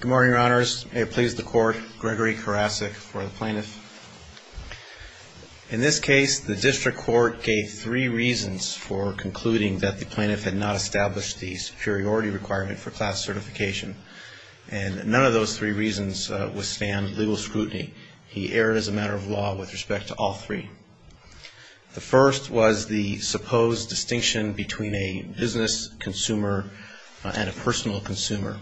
Good morning, Your Honors. May it please the Court, Gregory Karasik for the Plaintiff. In this case, the District Court gave three reasons for concluding that the Plaintiff had not established the superiority requirement for class certification, and none of those three reasons withstand legal scrutiny. He erred as a matter of law with respect to all three. The first was the supposed distinction between a business consumer and a personal consumer.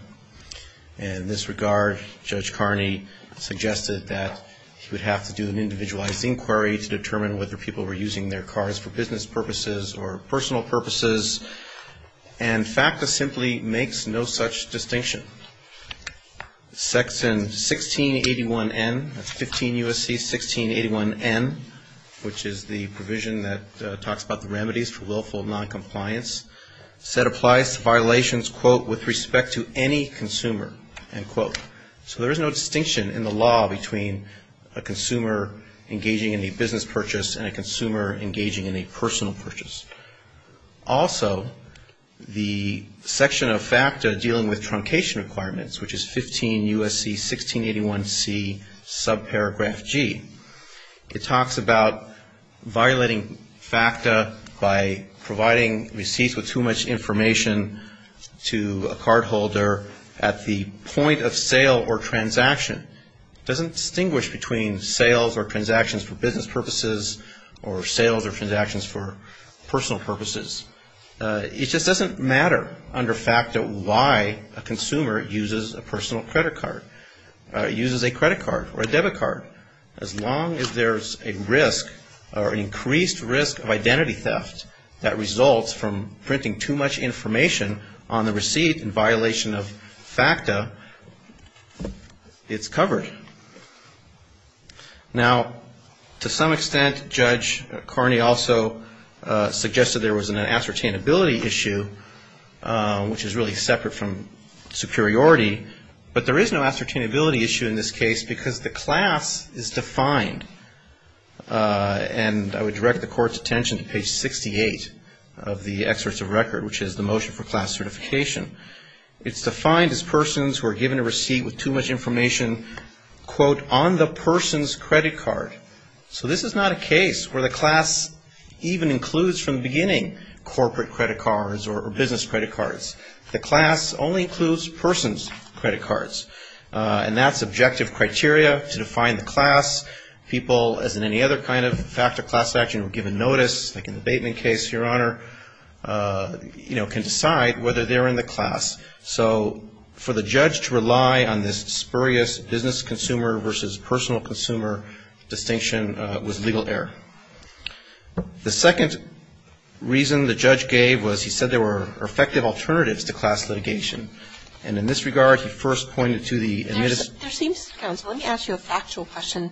And in this regard, Judge Carney suggested that he would have to do an individualized inquiry to determine whether people were using their cars for business purposes or personal purposes, and FACTA simply makes no such distinction. Section 1681N, that's 15 U.S.C. 1681N, which is the provision that talks about the remedies for willful noncompliance, said applies to violations, quote, with respect to any consumer, end quote. So there is no distinction in the law between a consumer engaging in a business purchase and a consumer engaging in a personal purchase. Also, the section of FACTA dealing with truncation requirements, which is 15 U.S.C. 1681C, subparagraph FG, it talks about violating FACTA by providing receipts with too much information to a cardholder at the point of sale or transaction. It doesn't distinguish between sales or transactions for business purposes or sales or transactions for personal purposes. It just doesn't matter under FACTA why a consumer uses a personal credit card, uses a credit card or a debit card. As long as there's a risk or an increased risk of identity theft that results from printing too much information on the receipt in violation of FACTA, it's covered. Now, to some extent, Judge Carney also suggested there was an ascertainability issue, which is really separate from superiority. But there is no ascertainability issue in this case because the class is defined. And I would direct the Court's attention to page 68 of the excerpts of record, which is the motion for class quote, on the person's credit card. So this is not a case where the class even includes from the beginning corporate credit cards or business credit cards. The class only includes person's credit cards. And that's objective criteria to define the class. People, as in any other kind of FACTA class action, who are given notice, like in the Bateman case, Your Honor, you know, can decide whether they're in the class. So for the judge to rely on this spurious business consumer versus personal consumer distinction was legal error. The second reason the judge gave was he said there were effective alternatives to class litigation. And in this regard, he first pointed to the admittance of the class. There seems, counsel, let me ask you a factual question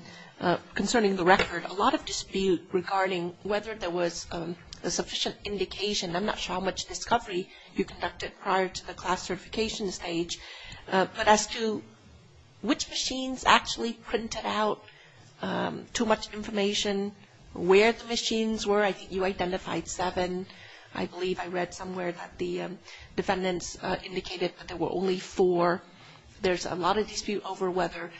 concerning the record. A lot of dispute regarding whether there was a sufficient indication, I'm not sure how much discovery you conducted prior to the class certification stage, but as to which machines actually printed out too much information, where the machines were, I think you identified seven. I believe I read somewhere that the defendants indicated that there were only four. There's a lot of dispute over whether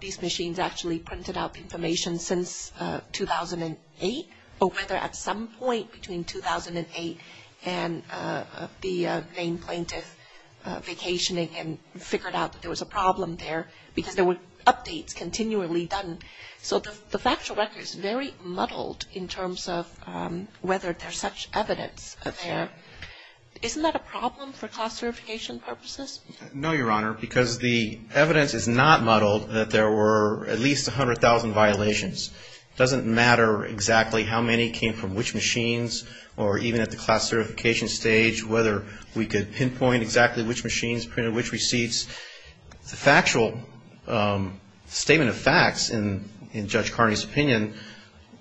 these machines actually printed out the information since 2008 or whether at some point between 2008 and the main plaintiff vacationing and figured out that there was a problem there because there were updates continually done. So the factual record is very muddled in terms of whether there's such evidence there. Isn't that a problem for class certification purposes? No, Your Honor, because the evidence is not muddled that there were at least 100,000 violations. It doesn't matter exactly how many came from which machines or even at the class certification stage whether we could pinpoint exactly which machines printed which receipts. The factual statement of facts in Judge Carney's opinion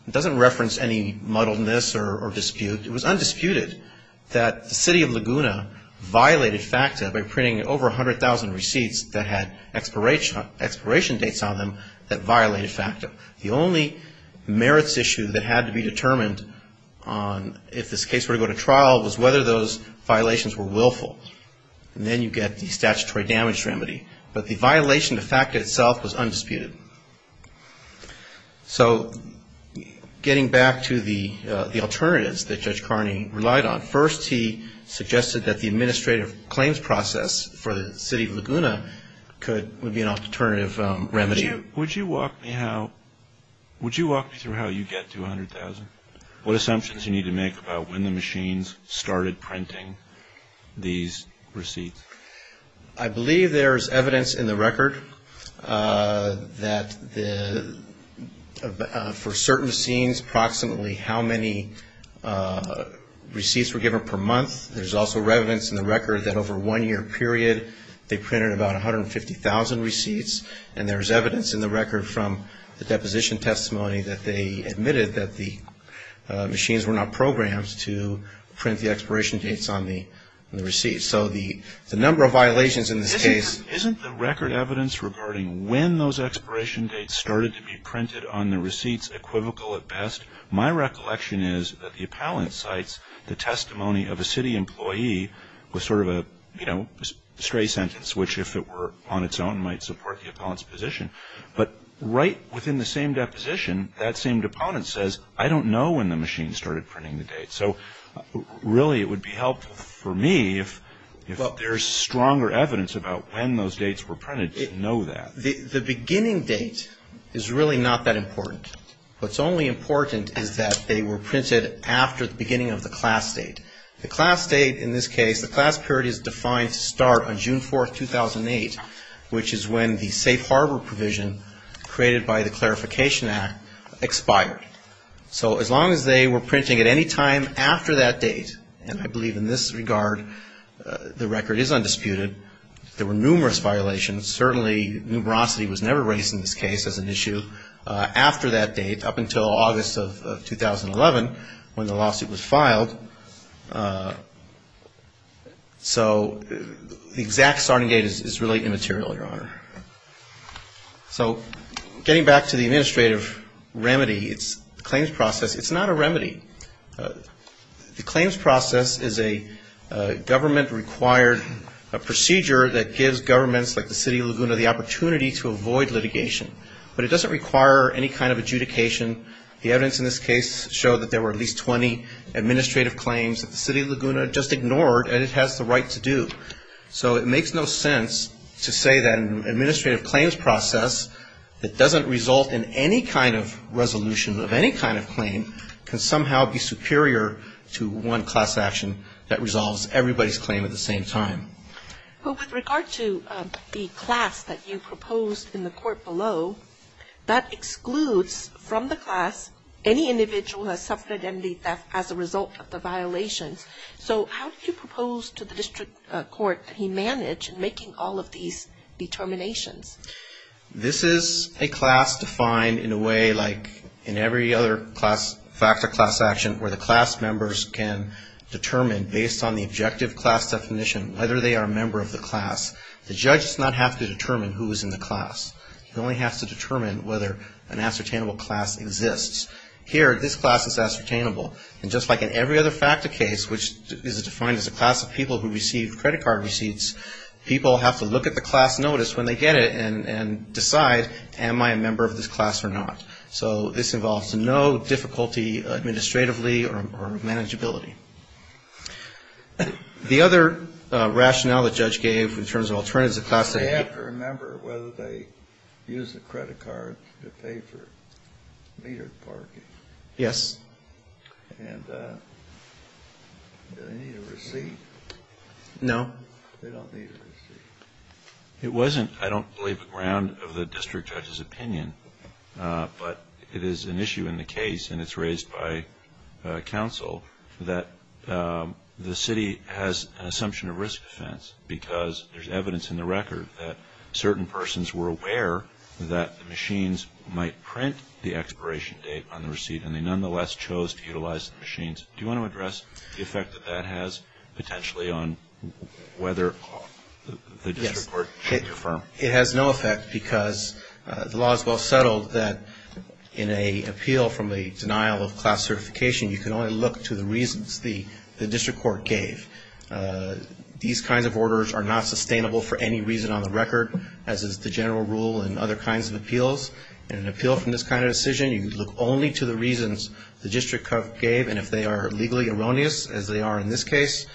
doesn't reference any muddledness or dispute. It was undisputed that the city of Laguna violated FACTA by printing over 100,000 receipts that had expiration dates on them that violated FACTA. The only merits issue that had to be determined on if this case were to go to trial was whether those violations were willful. And then you get the statutory damage remedy. But the violation of FACTA itself was undisputed. So getting back to the alternatives that Judge Carney relied on, first he suggested that the administrative claims process for the remedy. Would you walk me through how you get to 100,000? What assumptions you need to make about when the machines started printing these receipts? I believe there's evidence in the record that for certain machines approximately how many receipts were given per month. There's also evidence in the record from the deposition testimony that they admitted that the machines were not programmed to print the expiration dates on the receipts. So the number of violations in this case Isn't the record evidence regarding when those expiration dates started to be printed on the receipts equivocal at best? My recollection is that the appellant cites the testimony of a city employee with sort of a stray sentence which if it were on its own might support the But right within the same deposition, that same deponent says, I don't know when the machine started printing the date. So really it would be helpful for me if there's stronger evidence about when those dates were printed to know that. The beginning date is really not that important. What's only important is that they were printed after the beginning of the class date. The class date in this case, the class period is defined to start on June 4th, 2008, which is when the safe harbor provision created by the Clarification Act expired. So as long as they were printing at any time after that date, and I believe in this regard the record is undisputed, there were numerous violations. Certainly numerosity was never raised in this case as an issue after that date up until August of 2011 when the lawsuit was filed. So the exact starting date is really immaterial, Your Honor. So getting back to the administrative remedy, it's the claims process. It's not a remedy. The claims process is a government-required procedure that gives governments like the City of Laguna the opportunity to avoid litigation. But it doesn't require any kind of adjudication. The evidence in this case showed that there were at least 20 administrative claims that the City of Laguna just ignored and it has the right to do. So it makes no sense to say that an administrative claims process that doesn't result in any kind of resolution of any kind of claim can somehow be superior to one class action that resolves everybody's claim at the same time. Well, with regard to the class that you proposed in the court below, that excludes from the class any individual who has suffered MD theft as a result of the violations. So how do you propose to the district court that he manage in making all of these determinations? This is a class defined in a way like in every other factor class action where the class members can determine based on the objective class definition whether they are a member of the class. The judge does not have to determine who is in the class. He only has to determine whether an ascertainable class exists. Here, this class is ascertainable. And just like in every other factor case, which is defined as a class of people who receive credit card receipts, people have to look at the class notice when they get it and decide am I a member of this class or not. So this involves no difficulty administratively or manageability. The other rationale the judge gave in terms of alternatives to the class that they have to remember whether they use the credit card to pay for metered parking. Yes. And do they need a receipt? No. They don't need a receipt. It wasn't, I don't believe, a ground of the district judge's opinion, but it is an issue in the case, and it's raised by counsel, that the city has an assumption of risk offense because there's evidence in the record that certain persons were aware that the machines might print the expiration date on Do you want to address the effect that that has potentially on whether the district court should confirm? Yes. It has no effect because the law is well settled that in an appeal from a denial of class certification, you can only look to the reasons the district court gave. These kinds of orders are not sustainable for any reason on the record, as is the general rule in other kinds of appeals. In an appeal from this kind of decision, you look only to the reasons the district court gave, and if they are legally erroneous, as they are in this case,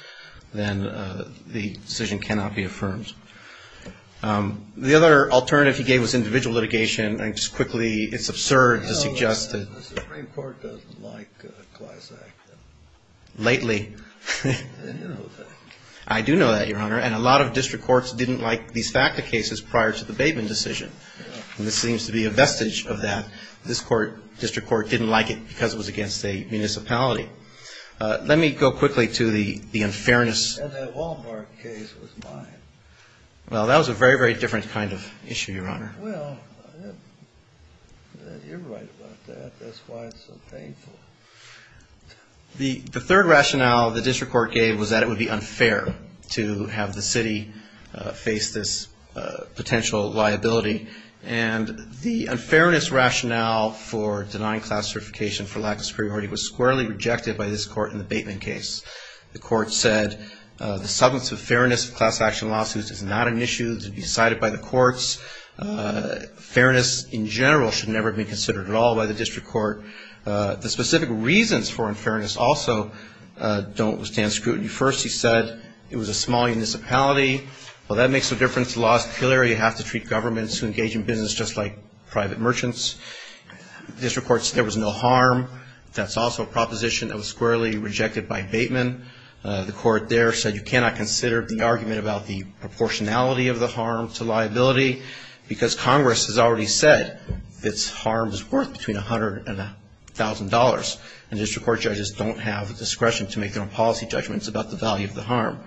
then the decision cannot be affirmed. The other alternative he gave was individual litigation. I can just quickly, it's absurd to suggest that The Supreme Court doesn't like class act. Lately. I didn't know that. I do know that, Your Honor, and a lot of district courts didn't like these FACA cases prior to the Bateman decision. This seems to be a vestige of that. This court, district court, didn't like it because it was against a municipality. Let me go quickly to the unfairness. And that Wal-Mart case was mine. Well, that was a very, very different kind of issue, Your Honor. Well, you're right about that. That's why it's so painful. The third rationale the district court gave was that it would be unfair to have the city face this potential liability. And the unfairness rationale for denying classification for lack of superiority was squarely rejected by this court in the Bateman case. The court said the substance of fairness of class action lawsuits is not an issue to be decided by the courts. Fairness in general should never be considered at all by the district court. The specific reasons for unfairness also don't stand scrutiny. First, he said it was a small municipality. Well, that makes no difference. The law is clear. You have to treat governments who engage in business just like private merchants. The district court said there was no harm. That's also a proposition that was squarely rejected by Bateman. The court there said you cannot consider the argument about the proportionality of the harm to liability because Congress has already said that its harm is worth between $100,000 and $1,000. And district court judges don't have the discretion to make their own policy judgments about the value of the harm.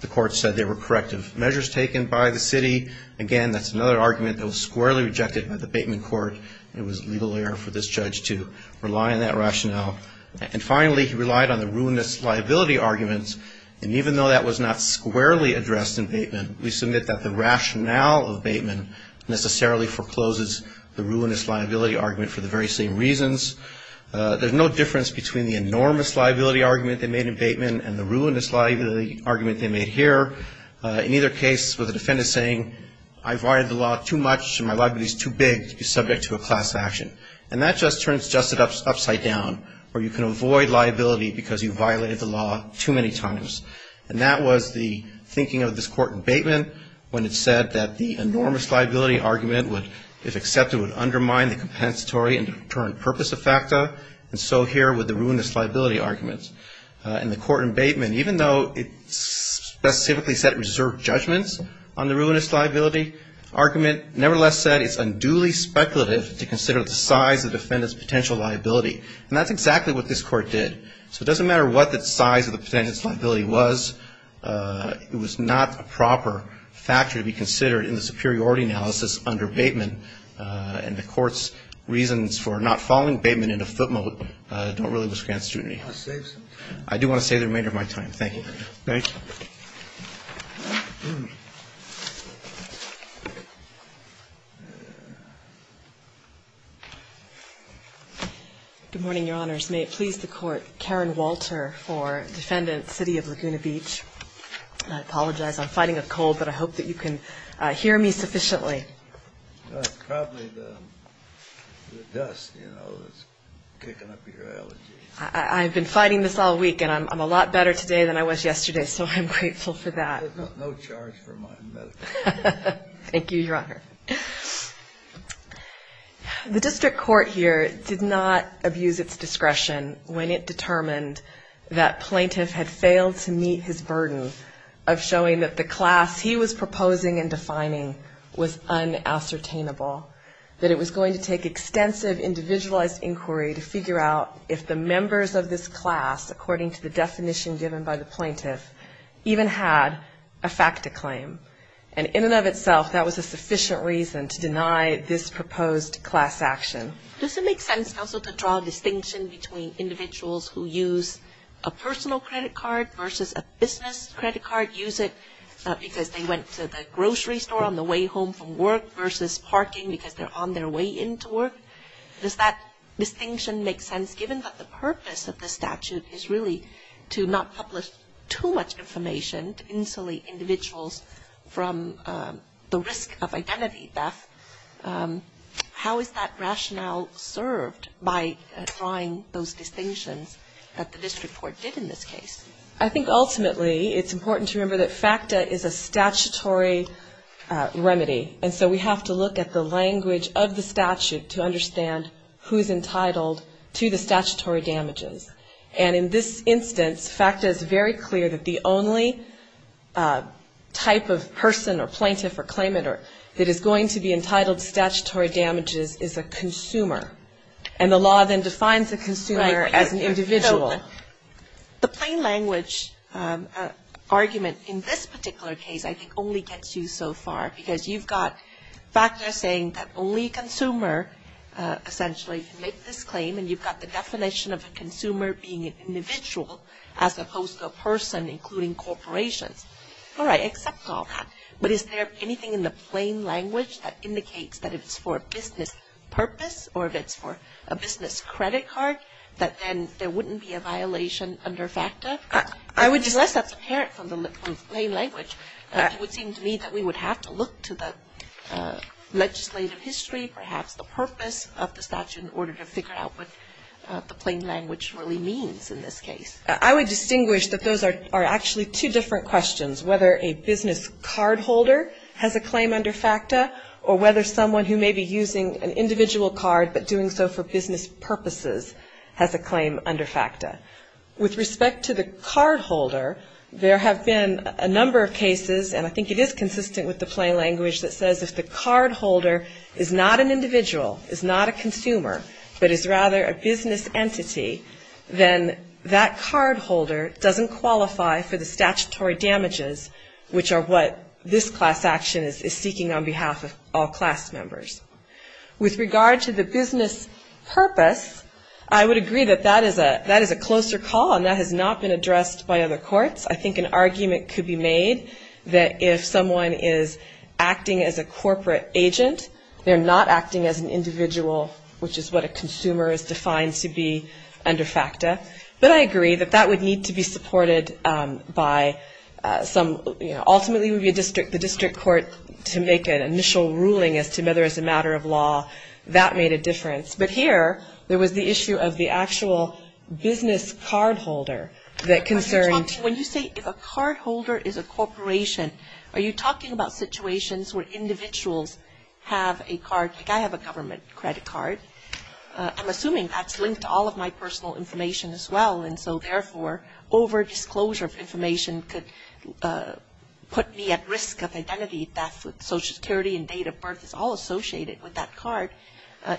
The court said there were corrective measures taken by the city. Again, that's another argument that was squarely rejected by the Bateman court. It was legal error for this judge to rely on that rationale. And finally, he relied on the ruinous liability arguments. And even though that was not squarely addressed in Bateman, we submit that the rationale of Bateman necessarily forecloses the ruinous liability argument for the very same reasons. There's no difference between the enormous liability argument they made in Bateman and the ruinous liability argument they made here. In either case, the defendant is saying I violated the law too much and my liability is too big to be subject to a class action. And that just turns justice upside down, where you can avoid liability because you violated the law too many times. And that was the thinking of this court in Bateman when it said that the enormous liability argument would, if accepted, would undermine the compensatory and deterrent purpose of FACTA, and so here with the ruinous liability argument. In the court in Bateman, even though it specifically said it reserved judgments on the ruinous liability argument, nevertheless said it's unduly speculative to consider the size of the defendant's potential liability. And that's exactly what this court did. So it doesn't matter what the size of the defendant's liability was. It was not a proper factor to be considered in the superiority analysis under Bateman, and the court's reasons for not following Bateman into footnote don't really withstand scrutiny. I do want to save the remainder of my time. Thank you. MS. GOTTLIEB Good morning, Your Honors. May it please the Court, Karen Walter for Defendant, City of Laguna Beach. I apologize. I'm fighting a cold, but I hope that you can hear me sufficiently. Probably the dust, you know, that's kicking up your allergies. I've been fighting this all week, and I'm a lot better today than I was yesterday, so I'm grateful for that. No charge for my medical. Thank you, Your Honor. The district court here did not abuse its discretion when it determined that Plaintiff had failed to meet his burden of showing that the class he was proposing and defining was unassertainable, that it was going to take extensive individualized inquiry to figure out if the members of this class, according to the definition given by the plaintiff, even had a fact to claim. And in and of itself, that was a sufficient reason to deny this proposed class action. Does it make sense, counsel, to draw a distinction between individuals who use a personal credit card versus a business credit card, use it because they went to the grocery store on the way home from work versus parking because they're on their way into work? Does that distinction make sense, given that the purpose of the statute is really to not publish too much information, to insulate individuals from the risk of identity theft? How is that rationale served by drawing those distinctions that the district court did in this case? I think ultimately it's important to remember that FACTA is a statutory remedy, and so we have to look at the language of the statute to understand who is entitled to the statutory damages. And in this instance, FACTA is very clear that the only type of person or plaintiff or claimant that is going to be entitled to statutory damages is a consumer. And the law then defines a consumer as an individual. The plain language argument in this particular case I think only gets you so far, because you've got FACTA saying that only a consumer essentially can make this claim, and you've got the definition of a consumer being an individual as opposed to a person, including corporations. All right, accept all that. But is there anything in the plain language that indicates that if it's for a business purpose or if it's for a business credit card that then there wouldn't be a violation under FACTA? Unless that's inherent from the plain language, it would seem to me that we would have to look to the legislative history, perhaps the purpose of the statute, in order to figure out what the plain language really means in this case. I would distinguish that those are actually two different questions, whether a business cardholder has a claim under FACTA or whether someone who may be using an individual card but doing so for business purposes has a claim under FACTA. With respect to the cardholder, there have been a number of cases, and I think it is consistent with the plain language that says if the cardholder is not an individual, is not a consumer, but is rather a business entity, then that cardholder doesn't qualify for the statutory damages, which are what this class action is seeking on behalf of all class members. With regard to the business purpose, I would agree that that is a closer call, and that has not been addressed by other courts. I think an argument could be made that if someone is acting as a corporate agent, they're not acting as an individual, which is what a consumer is defined to be under FACTA. But I agree that that would need to be supported by some, you know, ultimately it would be the district court to make an initial ruling as to whether it's a matter of law. That made a difference. But here, there was the issue of the actual business cardholder that concerned. When you say if a cardholder is a corporation, are you talking about situations where individuals have a card? Like I have a government credit card. I'm assuming that's linked to all of my personal information as well, and so therefore over-disclosure of information could put me at risk of identity theft. Social Security and date of birth is all associated with that card,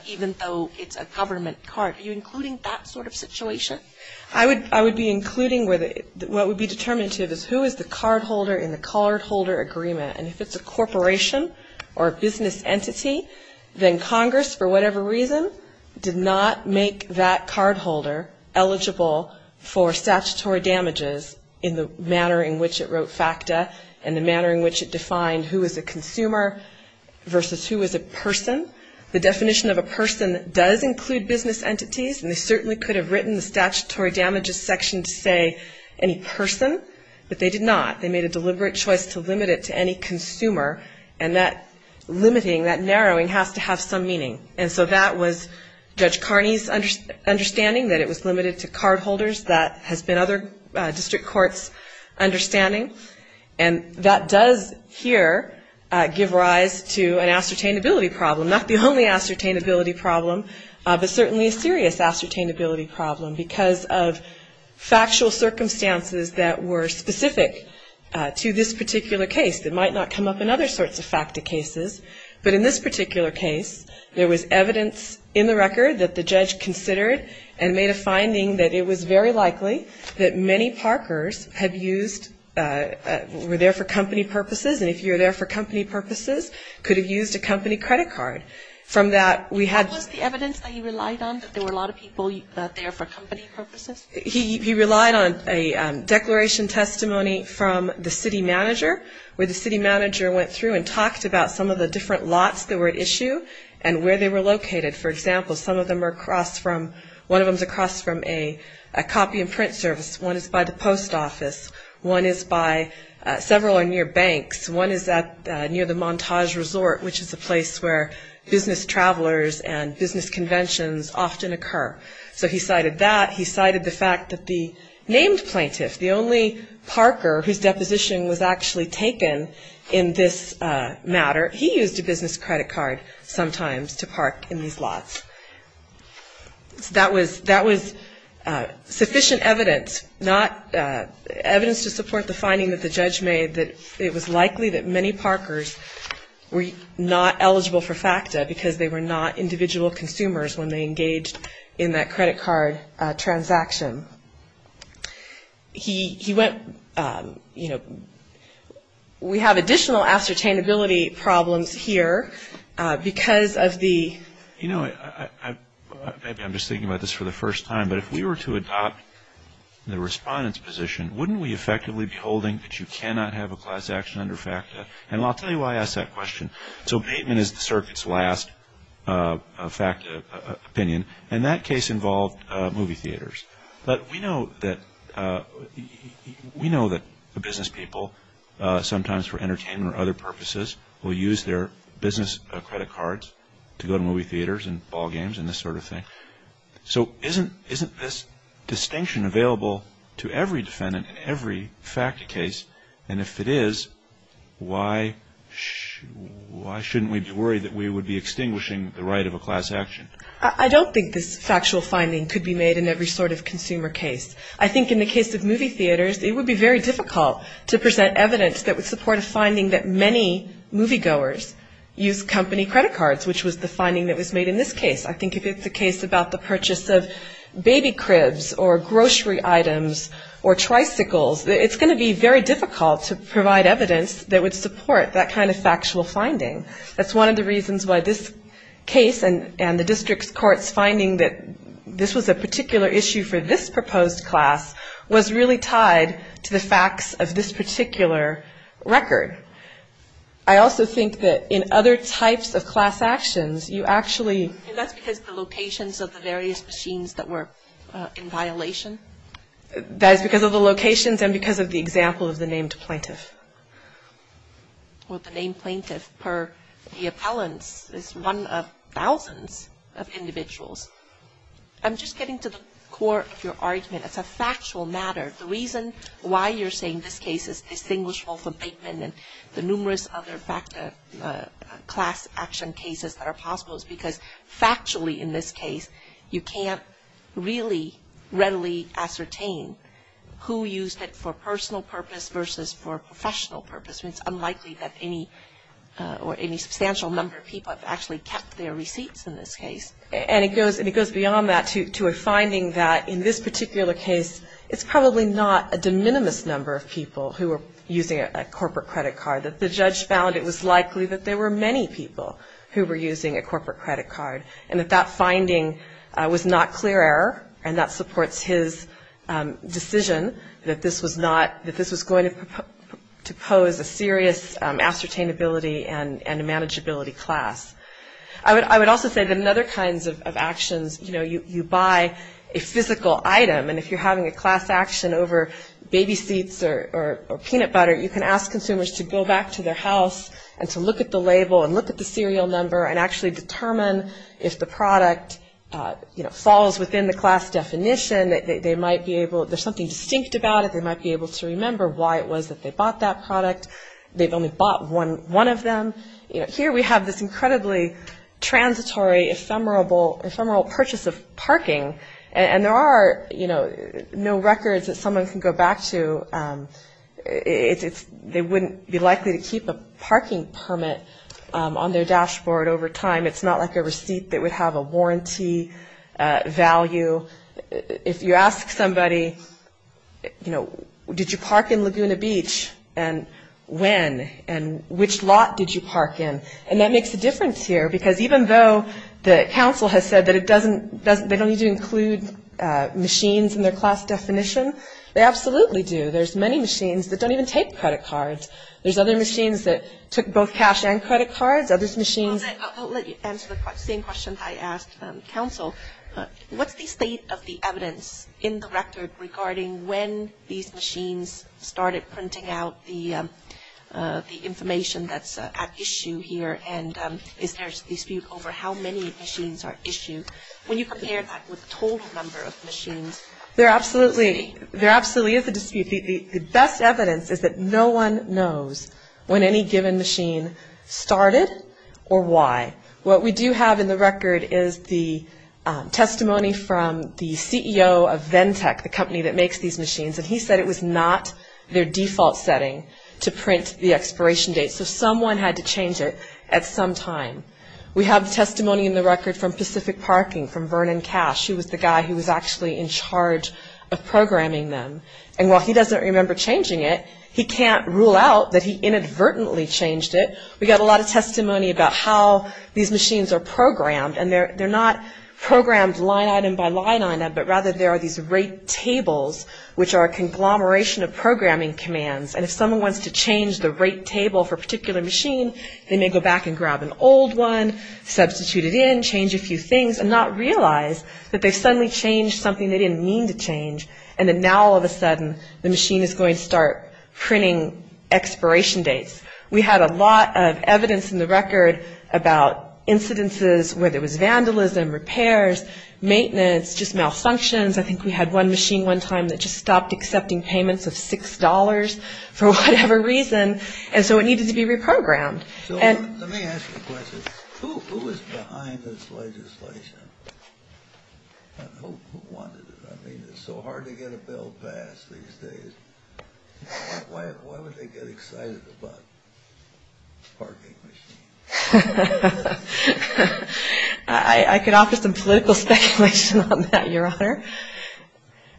even though it's a government card. Are you including that sort of situation? I would be including what would be determinative is who is the cardholder in the cardholder agreement. And if it's a corporation or a business entity, then Congress, for whatever reason, did not make that cardholder eligible for statutory damages in the manner in which it wrote FACTA and the manner in which it defined who is a consumer versus who is a person. The definition of a person does include business entities, and they certainly could have written the statutory damages section to say any person, but they did not. They made a deliberate choice to limit it to any consumer, and that limiting, that narrowing has to have some meaning. And so that was Judge Carney's understanding that it was limited to cardholders. That has been other district courts' understanding. And that does here give rise to an ascertainability problem, not the only ascertainability problem, but certainly a serious ascertainability problem because of factual circumstances that were specific to this particular case that might not come up in other sorts of FACTA cases. But in this particular case, there was evidence in the record that the judge considered and made a finding that it was very likely that many parkers have used, were there for company purposes, and if you're there for company purposes, could have used a company credit card. What was the evidence that he relied on, that there were a lot of people there for company purposes? He relied on a declaration testimony from the city manager, where the city manager went through and talked about some of the different lots that were at issue and where they were located. For example, one of them is across from a copy and print service. One is by the post office. One is by several or near banks. One is near the Montage Resort, which is a place where business travelers and business conventions often occur. So he cited that. He cited the fact that the named plaintiff, the only parker whose deposition was actually taken in this matter, he used a business credit card sometimes to park in these lots. So that was sufficient evidence, evidence to support the finding that the judge made that it was likely that many parkers were not eligible for FACTA because they were not individual consumers when they engaged in that credit card transaction. He went, you know, we have additional ascertainability problems here because of the... wouldn't we effectively be holding that you cannot have a class action under FACTA? And I'll tell you why I ask that question. So payment is the circuit's last FACTA opinion, and that case involved movie theaters. But we know that business people sometimes for entertainment or other purposes will use their business credit cards to go to movie theaters and ball games and this sort of thing. So isn't this distinction available to every defendant in every FACTA case? And if it is, why shouldn't we be worried that we would be extinguishing the right of a class action? I don't think this factual finding could be made in every sort of consumer case. I think in the case of movie theaters, it would be very difficult to present evidence that would support a finding that many moviegoers use company credit cards, which was the finding that was made in this case. I think if it's a case about the purchase of baby cribs or grocery items or tricycles, it's going to be very difficult to provide evidence that would support that kind of factual finding. That's one of the reasons why this case and the district court's finding that this was a particular issue for this proposed class was really tied to the facts of this particular record. I also think that in other types of class actions, you actually... And that's because the locations of the various machines that were in violation? That is because of the locations and because of the example of the named plaintiff. Well, the named plaintiff per the appellants is one of thousands of individuals. I'm just getting to the core of your argument. It's a factual matter. The reason why you're saying this case is distinguishable from Bateman and the numerous other FACTA class action cases that are possible is because factually in this case, you can't really readily ascertain who used it for personal purpose versus for professional purpose. It's unlikely that any substantial number of people have actually kept their receipts in this case. And it goes beyond that to a finding that in this particular case, it's probably not a de minimis number of people who were using a corporate credit card. That the judge found it was likely that there were many people who were using a corporate credit card and that that finding was not clear error and that supports his decision that this was not... that this was going to pose a serious ascertainability and a manageability class. I would also say that in other kinds of actions, you know, you buy a physical item. And if you're having a class action over baby seats or peanut butter, you can ask consumers to go back to their house and to look at the label and look at the serial number and actually determine if the product, you know, falls within the class definition. They might be able... there's something distinct about it. They might be able to remember why it was that they bought that product. They've only bought one of them. You know, here we have this incredibly transitory, ephemeral purchase of parking. And there are, you know, no records that someone can go back to. So it's... they wouldn't be likely to keep a parking permit on their dashboard over time. It's not like a receipt that would have a warranty value. If you ask somebody, you know, did you park in Laguna Beach? And when? And which lot did you park in? And that makes a difference here because even though the council has said that it doesn't... they don't need to include machines in their class definition, they absolutely do. There's many machines that don't even take credit cards. There's other machines that took both cash and credit cards. Other machines... I'll let you answer the same questions I asked the council. What's the state of the evidence in the record regarding when these machines started printing out the information that's at issue here? And is there a dispute over how many machines are issued? When you compare that with the total number of machines... There absolutely is a dispute. The best evidence is that no one knows when any given machine started or why. What we do have in the record is the testimony from the CEO of Ventec, the company that makes these machines. And he said it was not their default setting to print the expiration date. So someone had to change it at some time. We have testimony in the record from Pacific Parking, from Vernon Cash... He was the guy who was actually in charge of programming them. And while he doesn't remember changing it, he can't rule out that he inadvertently changed it. We got a lot of testimony about how these machines are programmed. And they're not programmed line item by line item, but rather there are these rate tables... which are a conglomeration of programming commands. And if someone wants to change the rate table for a particular machine... They may go back and grab an old one, substitute it in, change a few things... and not realize that they've suddenly changed something they didn't mean to change. And then now all of a sudden, the machine is going to start printing expiration dates. We had a lot of evidence in the record about incidences where there was vandalism, repairs, maintenance, just malfunctions. I think we had one machine one time that just stopped accepting payments of $6 for whatever reason. And so, it needed to be reprogrammed. So, let me ask you a question. Who is behind this legislation? Who wanted it? I mean, it's so hard to get a bill passed these days. Why would they get excited about parking machines? I could offer some political speculation on that, Your Honor.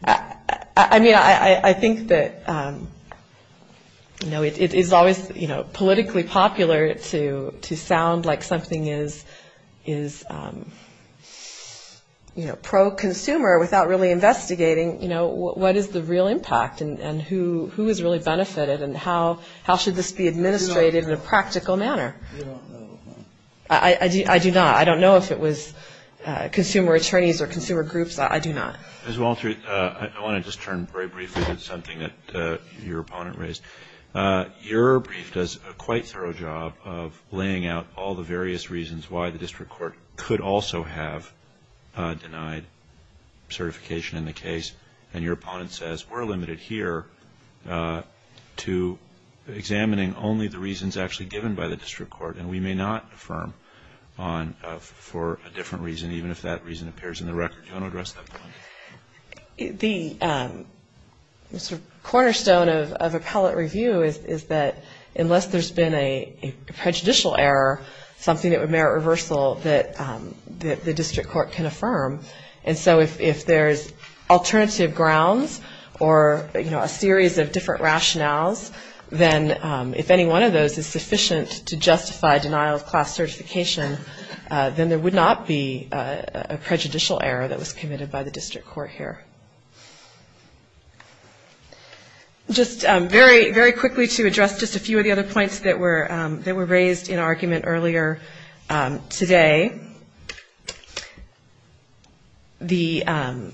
I mean, I think that, you know, it is always, you know, politically popular to sound like something is, you know, pro-consumer... without really investigating, you know, what is the real impact? And who has really benefited? And how should this be administrated in a practical manner? You don't know. I do not. I don't know if it was consumer attorneys or consumer groups. I do not. Ms. Walter, I want to just turn very briefly to something that your opponent raised. Your brief does a quite thorough job of laying out all the various reasons why the district court could also have denied certification in the case. And your opponent says, we're limited here to examining only the reasons actually given by the district court. And we may not affirm for a different reason, even if that reason appears in the record. Do you want to address that? The sort of cornerstone of appellate review is that unless there's been a prejudicial error, something that would merit reversal that the district court can affirm. And so if there's alternative grounds or, you know, a series of different rationales, then if any one of those is sufficient to justify denial of class certification, then there would not be a prejudicial error that was committed by the district court here. Just very quickly to address just a few of the other points that were raised in argument earlier today. When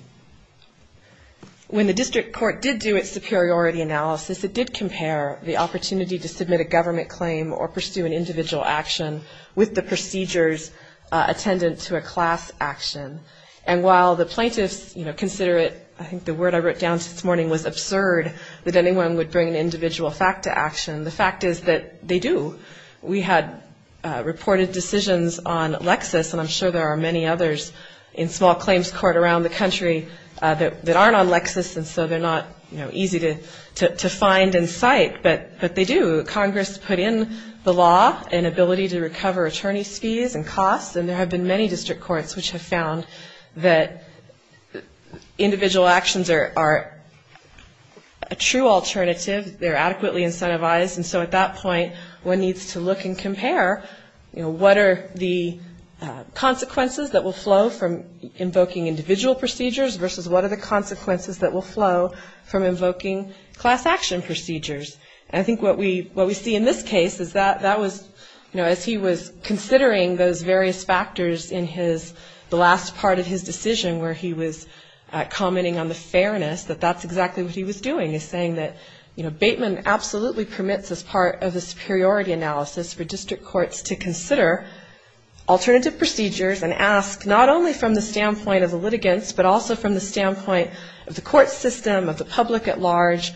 the district court did do its superiority analysis, it did compare the opportunity to submit a government claim or pursue an individual action with the procedures attendant to a class action. And while the plaintiffs, you know, consider it, I think the word I wrote down this morning was absurd, that anyone would bring an individual fact to action, the fact is that they do. We had reported decisions on Lexis, and I'm sure there are many others in small claims court around the country that aren't on Lexis, and so they're not, you know, easy to find in sight, but they do. Congress put in the law an ability to recover attorney's fees and costs, and there have been many district courts which have found that individual actions are a true alternative. They're adequately incentivized. And so at that point, one needs to look and compare, you know, what are the consequences that will flow from invoking individual procedures versus what are the consequences that will flow from invoking class action procedures. And I think what we see in this case is that that was, you know, as he was considering those various factors in the last part of his decision where he was commenting on the fairness, that that's exactly what he was doing, is saying that, you know, Bateman absolutely permits as part of the superiority analysis for district courts to consider alternative procedures and ask not only from the standpoint of the litigants, but also from the standpoint of the court system, of the public at large,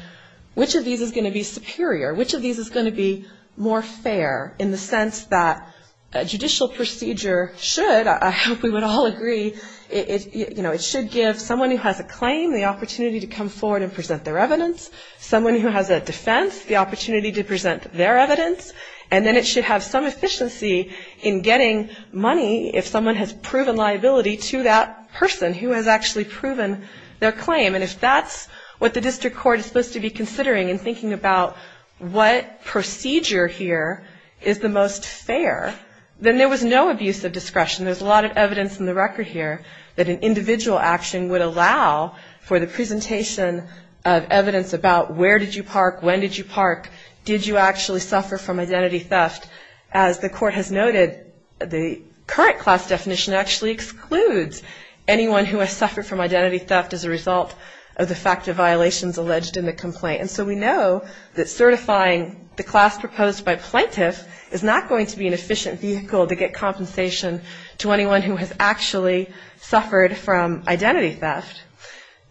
which of these is going to be superior, which of these is going to be more fair in the sense that a judicial procedure should, I hope we would all agree, you know, it should give someone who has a claim the opportunity to come forward and present their evidence, someone who has a defense the opportunity to present their evidence, and then it should have some efficiency in getting money if someone has proven liability to that person who has actually proven their claim. And if that's what the district court is supposed to be considering in thinking about what procedure here is the most fair, then there was no abuse of discretion. There's a lot of evidence in the record here that an individual action would allow for the presentation of evidence about where did you park, when did you park, did you actually suffer from identity theft. As the court has noted, the current class definition actually excludes anyone who has suffered from identity theft as a result of the fact of violations alleged in the complaint. And so we know that certifying the class proposed by plaintiff is not going to be an efficient vehicle to get compensation to anyone who has actually suffered from identity theft.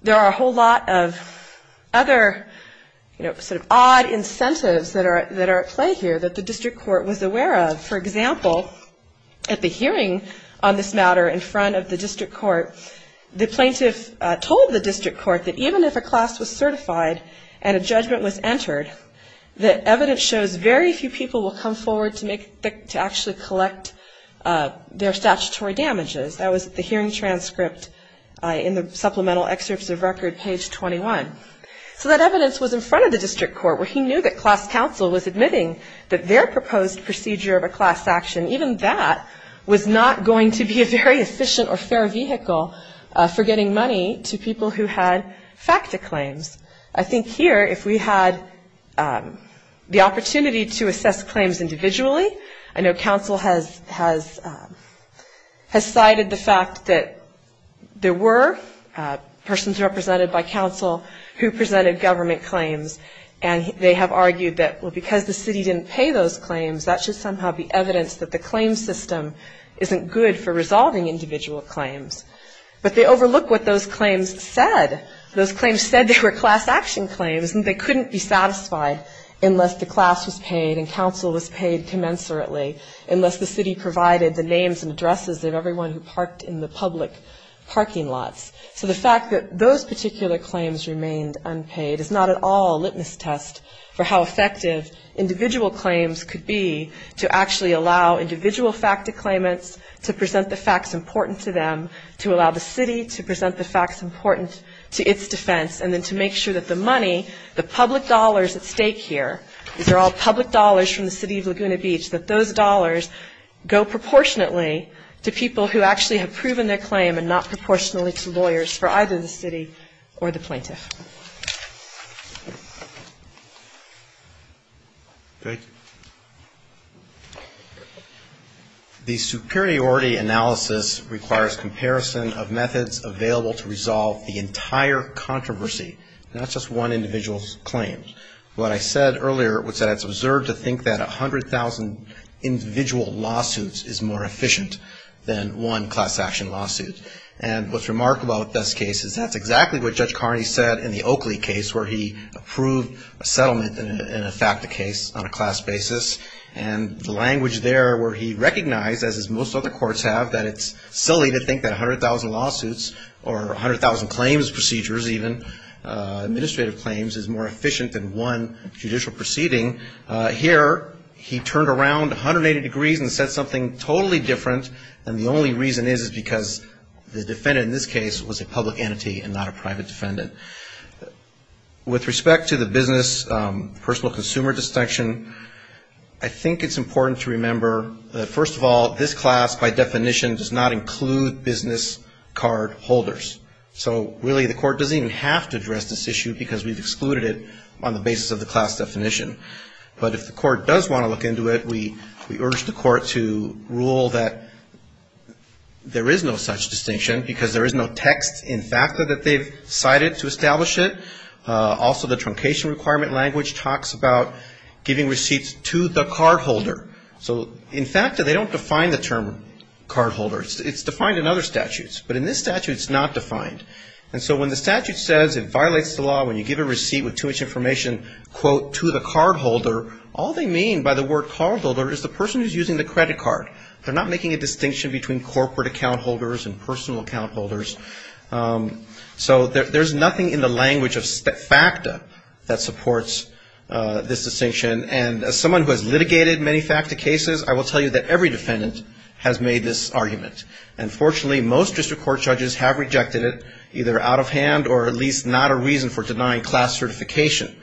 There are a whole lot of other sort of odd incentives that are at play here that the district court was aware of. For example, at the hearing on this matter in front of the district court, the plaintiff told the district court that even if a class was certified and a judgment was entered, that evidence shows very few people will come forward to actually collect their statutory damages. That was the hearing transcript in the supplemental excerpts of record, page 21. So that evidence was in front of the district court where he knew that class counsel was admitting that their proposed procedure of a class action, even that, was not going to be a very efficient or fair vehicle for getting money to people who had FACTA claims. I think here if we had the opportunity to assess claims individually, I know counsel has cited the fact that there were persons represented by counsel who presented government claims and they have argued that, well, because the city didn't pay those claims, that should somehow be evidence that the claim system isn't good for resolving individual claims. But they overlook what those claims said. Those claims said they were class action claims and they couldn't be satisfied unless the class was paid and counsel was paid commensurately, unless the city provided the names and addresses of everyone who parked in the public parking lots. So the fact that those particular claims remained unpaid is not at all a litmus test for how effective individual claims could be to actually allow individual FACTA claimants to present the facts important to them, to allow the city to present the facts important to its defense and then to make sure that the money, the public dollars at stake here, these are all public dollars from the city of Laguna Beach, that those dollars go proportionately to people who actually have proven their claim and not proportionately to lawyers for either the city or the plaintiff. Priority analysis requires comparison of methods available to resolve the entire controversy, not just one individual's claim. What I said earlier was that it's observed to think that 100,000 individual lawsuits is more efficient than one class action lawsuit. And what's remarkable about this case is that's exactly what Judge Carney said in the Oakley case where he approved a settlement in a FACTA case on a class basis. And the language there where he recognized, as most other courts have, that it's silly to think that 100,000 lawsuits or 100,000 claims, procedures even, administrative claims is more efficient than one judicial proceeding. Here he turned around 180 degrees and said something totally different. And the only reason is because the defendant in this case was a public entity and not a private defendant. With respect to the business personal consumer distinction, I think it's important to remember that, first of all, this class by definition does not include business card holders. So really the court doesn't even have to address this issue because we've excluded it on the basis of the class definition. But if the court does want to look into it, we urge the court to rule that there is no such distinction because there is no text in FACTA that they've cited to establish it. Also the truncation requirement language talks about giving receipts to the cardholder. So in FACTA they don't define the term cardholder. It's defined in other statutes, but in this statute it's not defined. And so when the statute says it violates the law when you give a receipt with too much information, quote, to the cardholder, all they mean by the word cardholder is the person who's using the credit card. They're not making a distinction between corporate account holders and personal account holders. So there's nothing in the language of FACTA that supports this distinction. And as someone who has litigated many FACTA cases, I will tell you that every defendant has made this argument. And fortunately most district court judges have rejected it, either out of hand or at least not a reason for denying class certification.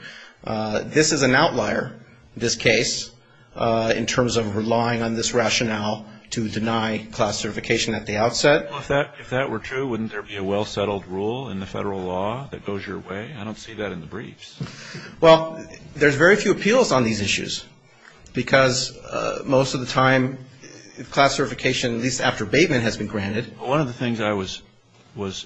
This is an outlier, this case, in terms of relying on this rationale to deny class certification at the outset. If that were true, wouldn't there be a well-settled rule in the federal law that goes your way? I don't see that in the briefs. Well, there's very few appeals on these issues because most of the time class certification, at least after abatement, has been granted. One of the things I was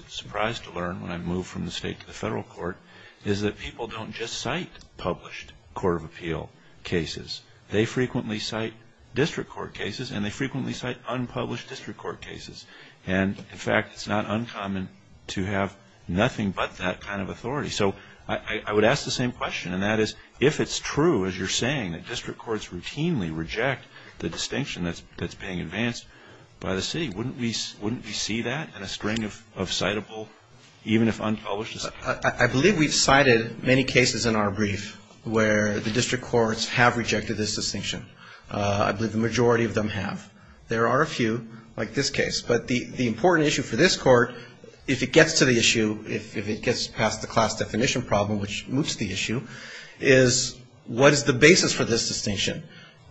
surprised to learn when I moved from the state to the federal court is that people don't just cite published court of appeal cases. They frequently cite district court cases, and they frequently cite unpublished district court cases. And, in fact, it's not uncommon to have nothing but that kind of authority. So I would ask the same question, and that is, if it's true, as you're saying, that district courts routinely reject the distinction that's being advanced by the city, wouldn't we see that in a string of citable, even if unpublished, cases? I believe we've cited many cases in our brief where the district courts have rejected this distinction. I believe the majority of them have. There are a few, like this case, but the important issue for this court, if it gets to the issue, if it gets past the class definition problem, which moots the issue, is what is the basis for this distinction?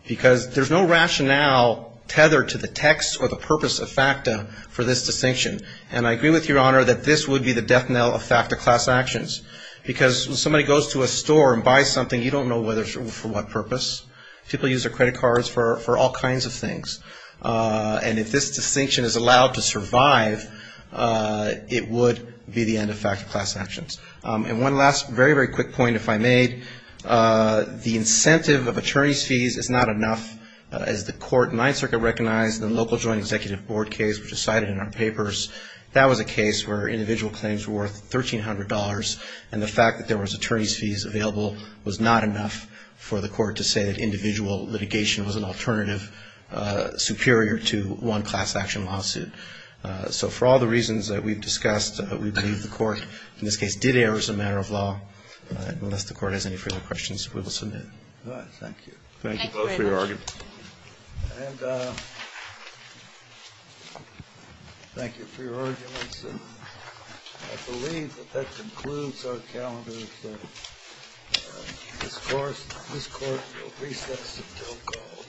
Because there's no rationale tethered to the text or the purpose of FACTA for this distinction. And I agree with Your Honor that this would be the death knell of FACTA class actions. Because when somebody goes to a store and buys something, you don't know for what purpose. People use their credit cards for all kinds of things. And if this distinction is allowed to survive, it would be the end of FACTA class actions. And one last very, very quick point, if I may, the incentive of attorney's fees is not enough. As the court in Ninth Circuit recognized in the local joint executive board case, which was cited in our papers, that was a case where individual claims were worth $1,300, and the fact that there was attorney's fees available was not enough for the court to say that individual litigation was an alternative, superior to one class action lawsuit. So for all the reasons that we've discussed, we believe the court in this case did err as a matter of law. Unless the court has any further questions, we will submit. Thank you. Thank you both for your arguments. And thank you for your arguments. And I believe that that concludes our calendar. This court will recess until called.